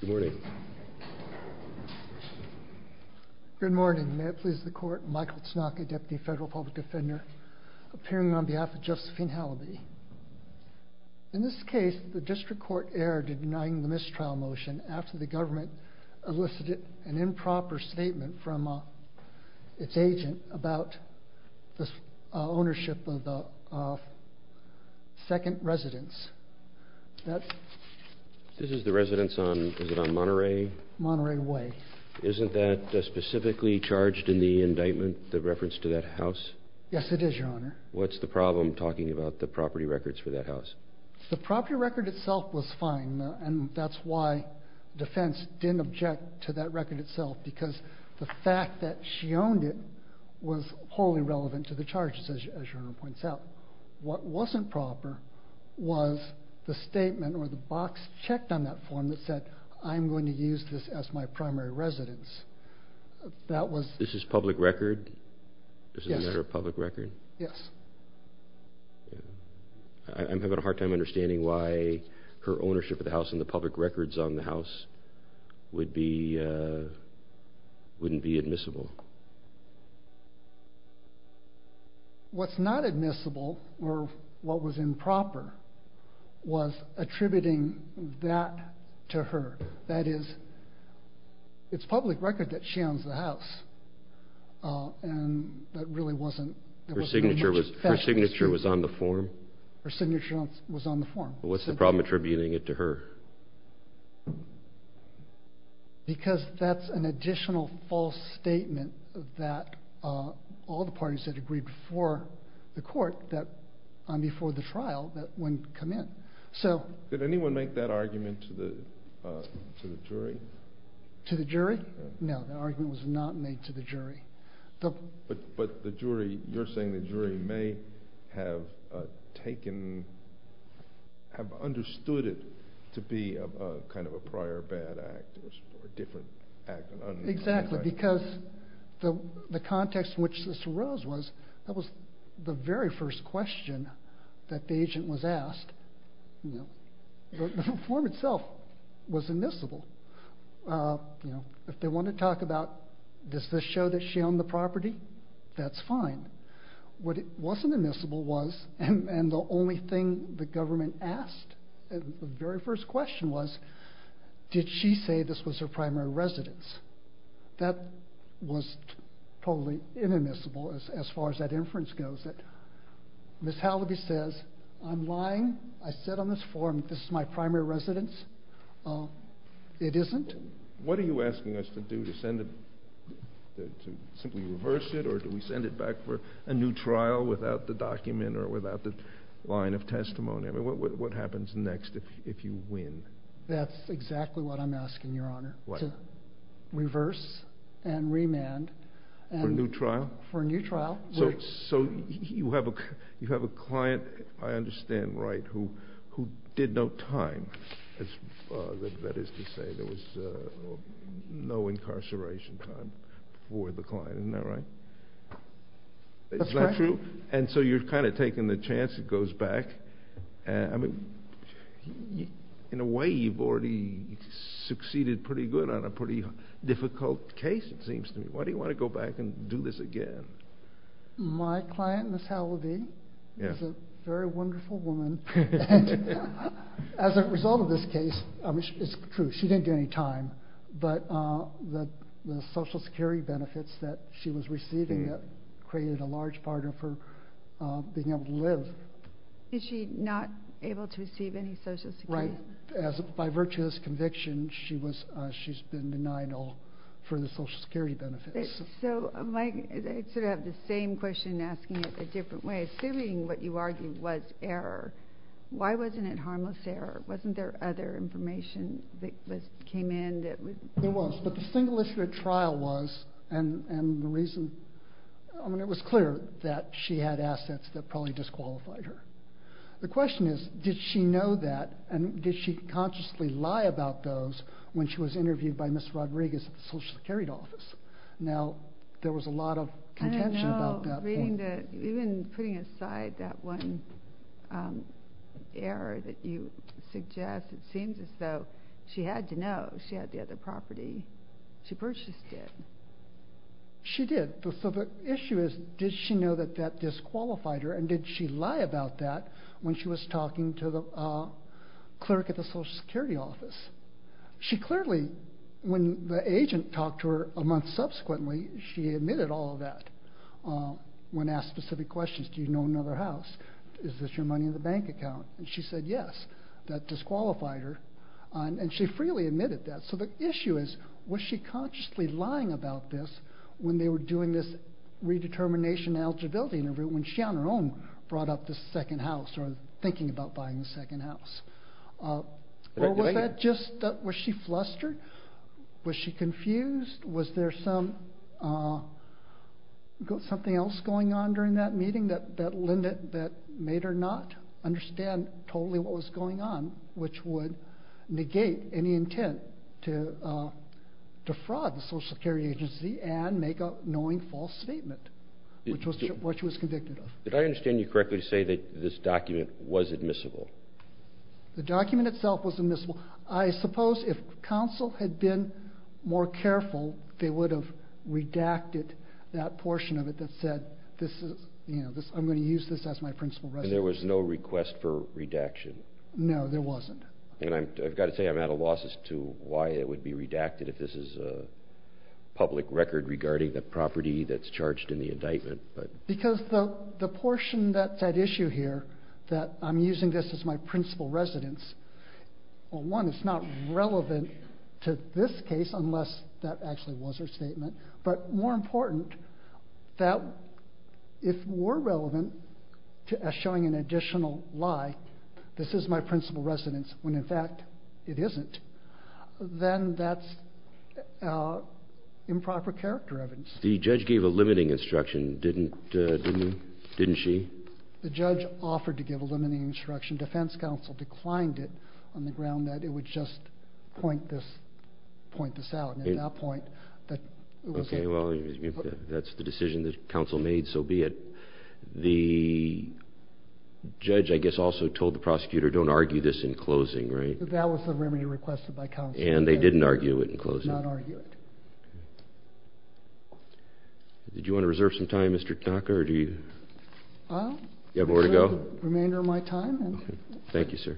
Good morning. Good morning, may it please the court, Michael Tsnok, a Deputy Federal Public Defender, appearing on behalf of Josephine Halabi. In this case, the district court erred in denying the mistrial motion after the government elicited an improper statement from its agent about the ownership of the second residence. This is the residence on, is it on Monterey? Monterey Way. Isn't that specifically charged in the indictment, the reference to that house? Yes, it is, Your Honor. What's the problem, talking about the property records for that house? The property record itself was fine, and that's why defense didn't object to that was wholly relevant to the charges, as Your Honor points out. What wasn't proper was the statement or the box checked on that form that said, I'm going to use this as my primary residence. That was... This is public record? Yes. This is a matter of public record? Yes. I'm having a hard time understanding why her ownership of the house and the public records on the house wouldn't be admissible. What's not admissible, or what was improper, was attributing that to her. That is, it's public record that she owns the house, and that really wasn't... Her signature was on the form? Her signature was on the form. What's the problem with attributing it to her? Because that's an additional false statement that all the parties that agreed before the court on before the trial, that wouldn't come in. Did anyone make that argument to the jury? To the jury? No, that argument was not made to the jury. But the jury, you're saying the jury may have taken, have understood it to be kind of a prior bad act, or a different act. Exactly, because the context in which this arose was, that was the very first question that the agent was asked. The form itself was admissible. If they want to talk about, does this show that she owned the property? That's fine. What wasn't admissible was, and the only thing the government asked, the very first question was, did she say this was her primary residence? That was totally inadmissible as far as that inference goes. Ms. Halliby says, I'm lying. I said on this form, this is my primary residence. It isn't. What are you asking us to do? To simply reverse it, or do we send it back for a new trial without the document, or without the line of testimony? What happens next if you win? That's exactly what I'm asking, Your Honor. To reverse and remand. For a new trial? For a new trial. You have a client, I understand right, who did no time. That is to say, there was no incarceration time for the client. Isn't that right? That's correct. Is that true? So you're kind of taking the chance, it goes back. In a way, you've already succeeded pretty good on a pretty difficult case, it seems to me. Why do you want to go back and do this again? My client, Ms. Halliby, is a very wonderful woman. As a result of this case, it's true, she didn't do any time, but the Social Security benefits that she was receiving created a large part of her being able to live. Is she not able to receive any Social Security? By virtue of this conviction, she's been denied all for the Social Security benefits. I sort of have the same question, asking it a different way. Assuming what you argue was error, why wasn't it harmless error? Wasn't there other information that came in? There was, but the single issue at trial was, and the reason, it was clear that she had Did she consciously lie about those when she was interviewed by Ms. Rodriguez at the Social Security office? Now, there was a lot of contention about that. I don't know. Even putting aside that one error that you suggest, it seems as though she had to know. She had the other property. She purchased it. She did. So the issue is, did she know that that disqualified her, and did she lie about that when she was talking to the clerk at the Social Security office? She clearly, when the agent talked to her a month subsequently, she admitted all of that. When asked specific questions, do you know another house? Is this your money in the bank account? And she said yes. That disqualified her, and she freely admitted that. So the issue is, was she consciously lying about this when they were doing this or thinking about buying a second house? Was she flustered? Was she confused? Was there something else going on during that meeting that made her not understand totally what was going on, which would negate any intent to defraud the Social Security agency and make a knowing false statement, which was what she was convicted of. Did I understand you correctly to say that this document was admissible? The document itself was admissible. I suppose if counsel had been more careful, they would have redacted that portion of it that said this is, you know, I'm going to use this as my principal residence. And there was no request for redaction? No, there wasn't. And I've got to say I'm at a loss as to why it would be redacted if this is a public record regarding the property that's charged in the indictment. Because the portion that's at issue here that I'm using this as my principal residence, well, one, it's not relevant to this case unless that actually was her statement. But more important, that if we're relevant to showing an additional lie, this is my principal residence, when in fact it isn't, then that's improper character evidence. The judge gave a limiting instruction, didn't she? The judge offered to give a limiting instruction. Defense counsel declined it on the ground that it would just point this out. And at that point, that was it. Okay, well, if that's the decision that counsel made, so be it. The judge, I guess, also told the prosecutor don't argue this in closing, right? That was the remedy requested by counsel. And they didn't argue it in closing? They did not argue it. Okay. Did you want to reserve some time, Mr. Tanaka, or do you have where to go? I'll reserve the remainder of my time. Thank you, sir.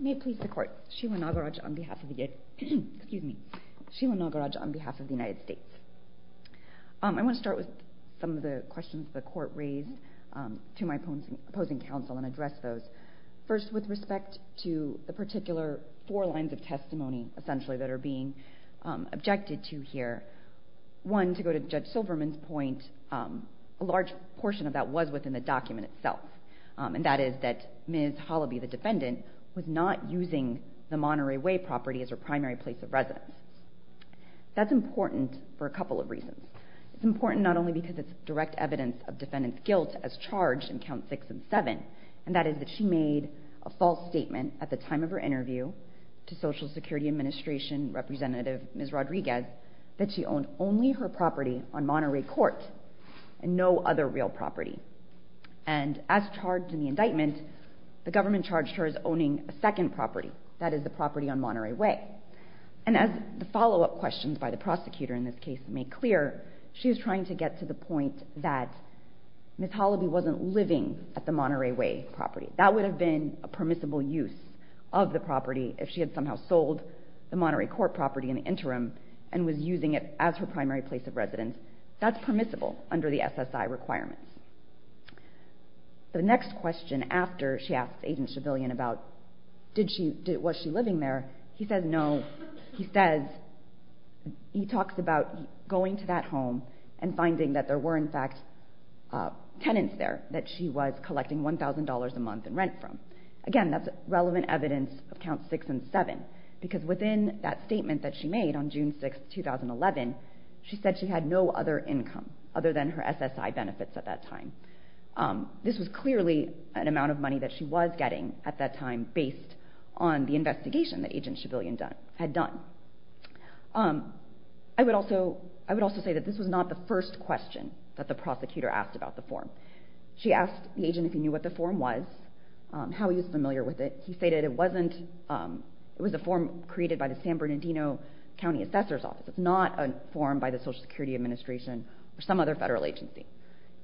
May it please the Court. Sheila Nagaraj on behalf of the United States. I want to start with some of the questions the Court raised to my opposing counsel and address those. First, with respect to the particular four lines of testimony, essentially, that are being objected to here, one, to go to Judge Silverman's point, a large portion of that was within the document itself, and that is that Ms. Hollaby, the defendant, was not using the Monterey Way property as her primary place of residence. That's important for a couple of reasons. It's important not only because it's direct evidence of defendant's guilt as charged in Counts 6 and 7, and that is that she made a false statement at the time of her interview to Social Security Administration Representative Ms. Rodriguez that she owned only her property on Monterey Court and no other real property. And as charged in the indictment, the government charged her as owning a second property, that is the property on Monterey Way. And as the follow-up questions by the prosecutor in this case made clear, she was trying to get to the point that Ms. Hollaby wasn't living at the Monterey Way property. That would have been a permissible use of the property if she had somehow sold the Monterey Court property in the interim and was using it as her primary place of residence. That's permissible under the SSI requirements. The next question after she asked Agent Chebillion about, was she living there, he says no. He talks about going to that home and finding that there were, in fact, tenants there that she was collecting $1,000 a month in rent from. Again, that's relevant evidence of Counts 6 and 7, because within that statement that she made on June 6, 2011, she said she had no other income other than her SSI benefits at that time. This was clearly an amount of money that she was getting at that time based on the investigation that Agent Chebillion had done. I would also say that this was not the first question that the prosecutor asked about the form. She asked the agent if he knew what the form was, how he was familiar with it. He stated it was a form created by the San Bernardino County Assessor's Office. It's not a form by the Social Security Administration or some other federal agency.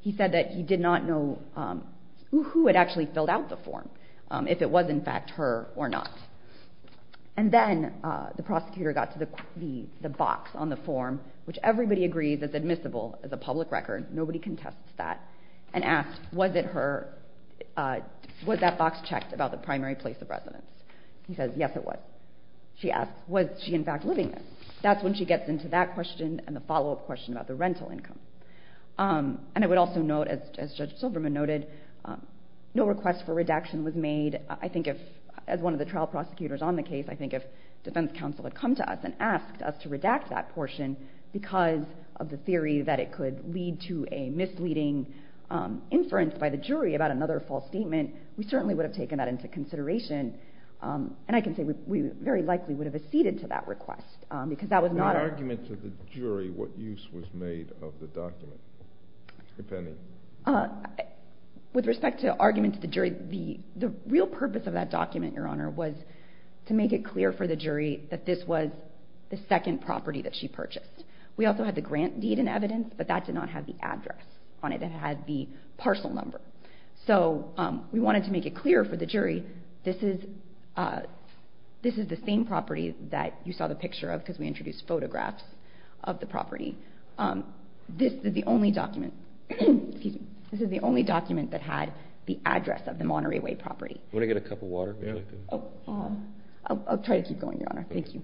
He said that he did not know who had actually filled out the form, if it was, in fact, her or not. And then the prosecutor got to the box on the form, which everybody agrees is admissible as a public record. Nobody contests that. And asked, was it her? Was that box checked about the primary place of residence? He says, yes, it was. She asks, was she, in fact, living there? That's when she gets into that question and the follow-up question about the rental income. And I would also note, as Judge Silverman noted, no request for redaction was made. I think if, as one of the trial prosecutors on the case, I think if defense counsel had come to us and asked us to redact that portion because of the theory that it could lead to a misleading inference by the jury about another false statement, we certainly would have taken that into consideration. And I can say we very likely would have acceded to that request because that was not our... In the argument to the jury, what use was made of the document, if any? With respect to argument to the jury, the real purpose of that document, Your Honor, was to make it clear for the jury that this was the second property that she purchased. We also had the grant deed in evidence, but that did not have the address on it. It had the parcel number. So we wanted to make it clear for the jury this is the same property that you saw the picture of because we introduced photographs of the property. This is the only document that had the address of the Monterey Way property. Do you want to get a cup of water? I'll try to keep going, Your Honor. Thank you.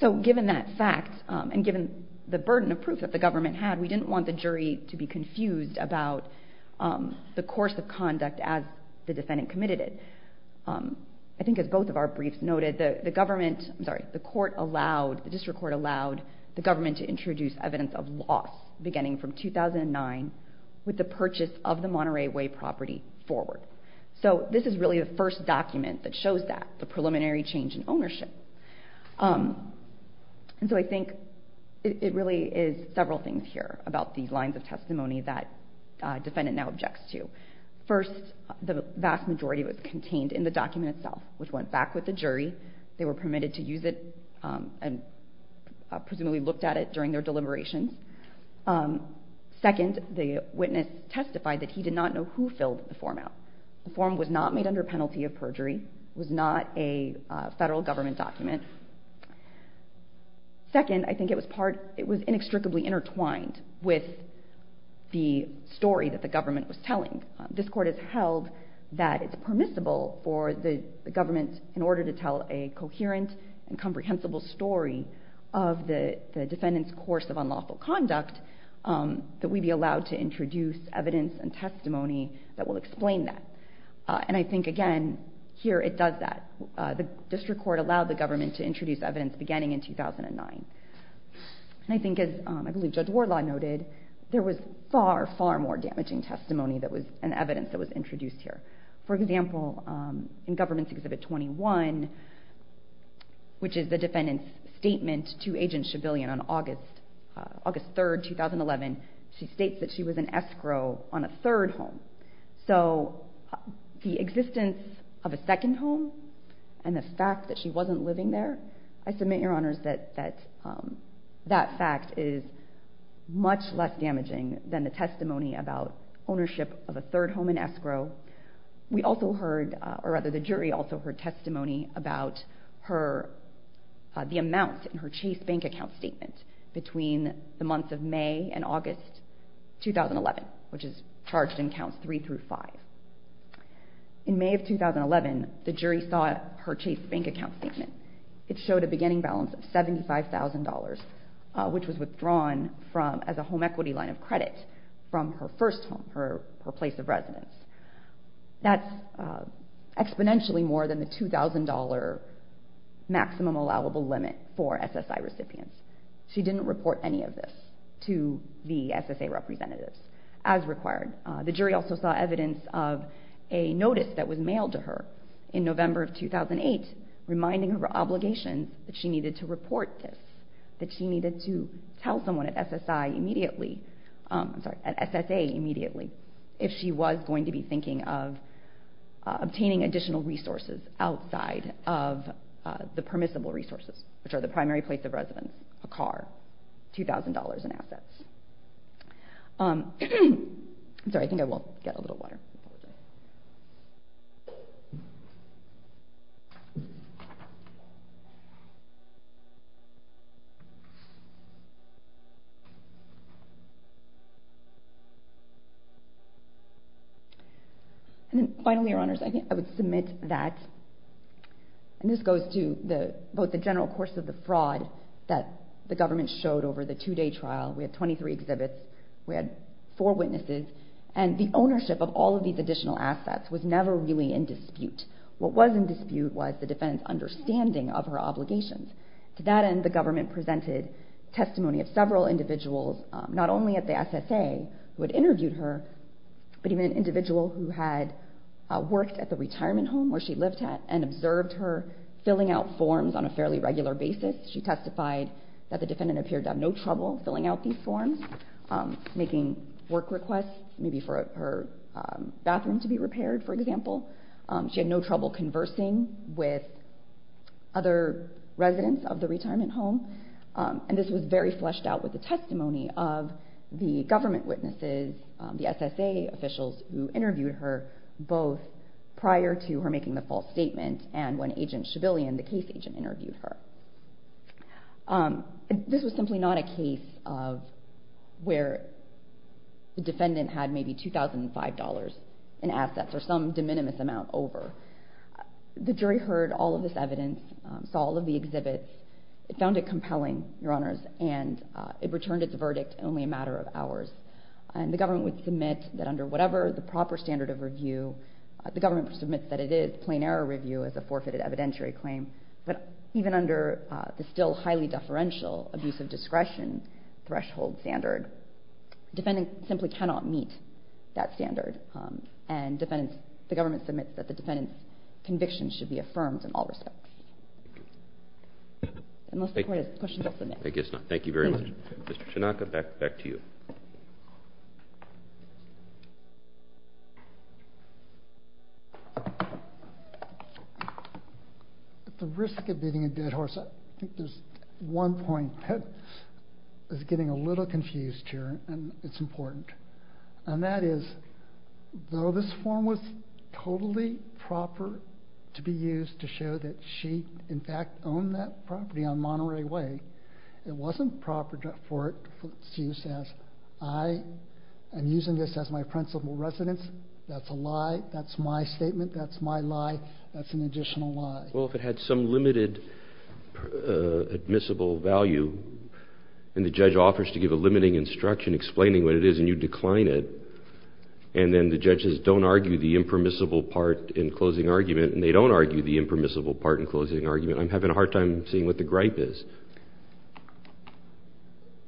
So given that fact and given the burden of proof that the government had, we didn't want the jury to be confused about the course of conduct as the defendant committed it. I think as both of our briefs noted, the district court allowed the government to introduce evidence of loss beginning from 2009 with the purchase of the Monterey Way property forward. So this is really the first document that shows that, the preliminary change in ownership. And so I think it really is several things here about these lines of testimony that the defendant now objects to. First, the vast majority was contained in the document itself, which went back with the jury. They were permitted to use it and presumably looked at it during their deliberations. Second, the witness testified that he did not know who filled the form out. The form was not made under penalty of perjury. It was not a federal government document. Second, I think it was inextricably intertwined with the story that the government was telling. I think this court has held that it's permissible for the government, in order to tell a coherent and comprehensible story of the defendant's course of unlawful conduct, that we be allowed to introduce evidence and testimony that will explain that. And I think, again, here it does that. The district court allowed the government to introduce evidence beginning in 2009. And I think, as I believe Judge Wardlaw noted, there was far, far more damaging testimony and evidence that was introduced here. For example, in Government's Exhibit 21, which is the defendant's statement to Agent Chebillion on August 3, 2011, she states that she was an escrow on a third home. So the existence of a second home and the fact that she wasn't living there, I submit, Your Honors, that that fact is much less damaging than the testimony about ownership of a third home and escrow. We also heard, or rather the jury also heard testimony about the amount in her Chase Bank account statement between the months of May and August 2011, which is charged in Counts 3 through 5. In May of 2011, the jury saw her Chase Bank account statement. It showed a beginning balance of $75,000, which was withdrawn as a home equity line of credit from her first home, her place of residence. That's exponentially more than the $2,000 maximum allowable limit for SSI recipients. She didn't report any of this to the SSA representatives as required. The jury also saw evidence of a notice that was mailed to her in November of 2008 reminding her of her obligations that she needed to report this, that she needed to tell someone at SSA immediately if she was going to be thinking of obtaining additional resources outside of the permissible resources, which are the primary place of residence, a car, $2,000 in assets. Sorry, I think I will get a little water. And finally, Your Honors, I think I would submit that, and this goes to both the general course of the fraud that the government showed over the two-day trial. We had 23 exhibits, we had four witnesses, and the ownership of all of these additional assets was never really in dispute. What was in dispute was the defendant's understanding of her obligations. To that end, the government presented testimony of several individuals, not only at the SSA who had interviewed her, but even an individual who had worked at the retirement home where she lived at and observed her filling out forms on a fairly regular basis. She testified that the defendant appeared to have no trouble filling out these forms, making work requests, maybe for her bathroom to be repaired, for example. She had no trouble conversing with other residents of the retirement home. And this was very fleshed out with the testimony of the government witnesses, the SSA officials who interviewed her, both prior to her making the false statement and when Agent Chebillion, the case agent, interviewed her. This was simply not a case of where the defendant had maybe $2,005 in assets or some de minimis amount over. The jury heard all of this evidence, saw all of the exhibits. It found it compelling, Your Honors, and it returned its verdict only a matter of hours. And the government would submit that under whatever the proper standard of review, the government would submit that it is plain error review as a forfeited evidentiary claim. But even under the still highly deferential abuse of discretion threshold standard, the defendant simply cannot meet that standard. And the government submits that the defendant's conviction should be affirmed in all respects. Unless the Court has questions, I'll submit. I guess not. Thank you very much. Mr. Chinaka, back to you. At the risk of beating a dead horse, I think there's one point that is getting a little confused here, and it's important. And that is, though this form was totally proper to be used to show that she, in fact, owned that property on Monterey Way, it wasn't proper for it to be used as, I am using this as my principal residence. That's a lie. That's my statement. That's my lie. That's an additional lie. Well, if it had some limited admissible value and the judge offers to give a limiting instruction explaining what it is and you decline it, and then the judges don't argue the impermissible part in closing argument and they don't argue the impermissible part in closing argument, I'm having a hard time seeing what the gripe is.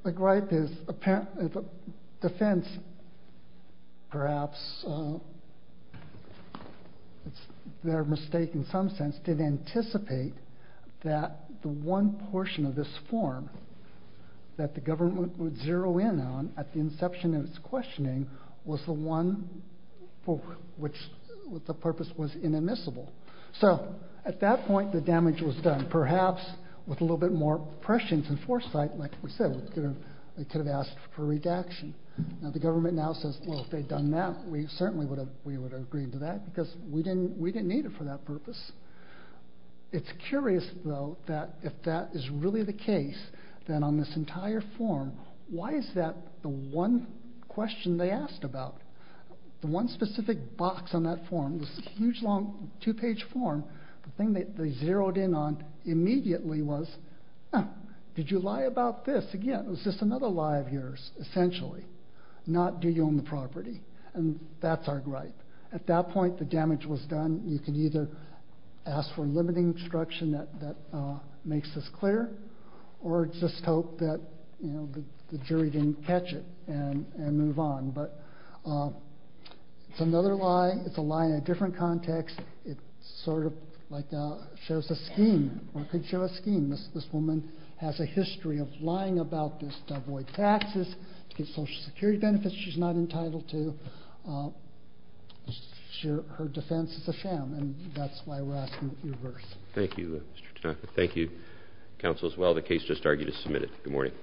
The gripe is the defense perhaps, it's their mistake in some sense, did anticipate that the one portion of this form that the government would zero in on at the inception of its questioning was the one for which the purpose was inadmissible. So at that point the damage was done, perhaps with a little bit more prescience and foresight, like we said, they could have asked for redaction. Now the government now says, well, if they'd done that, we certainly would have agreed to that because we didn't need it for that purpose. It's curious though that if that is really the case, then on this entire form, why is that the one question they asked about? The one specific box on that form, this huge long two page form, the thing that they zeroed in on immediately was, did you lie about this? Again, it was just another lie of yours essentially, not do you own the property? And that's our gripe. At that point, the damage was done. You can either ask for limiting instruction that makes this clear, or just hope that the jury didn't catch it and move on. But it's another lie. It's a lie in a different context. It sort of like shows a scheme or could show a scheme. This woman has a history of lying about this to avoid taxes, to get social security benefits she's not entitled to. Her defense is a sham. And that's why we're asking for reverse. Thank you, Mr. Tanaka. Thank you, counsel, as well. The case just argued is submitted. Good morning.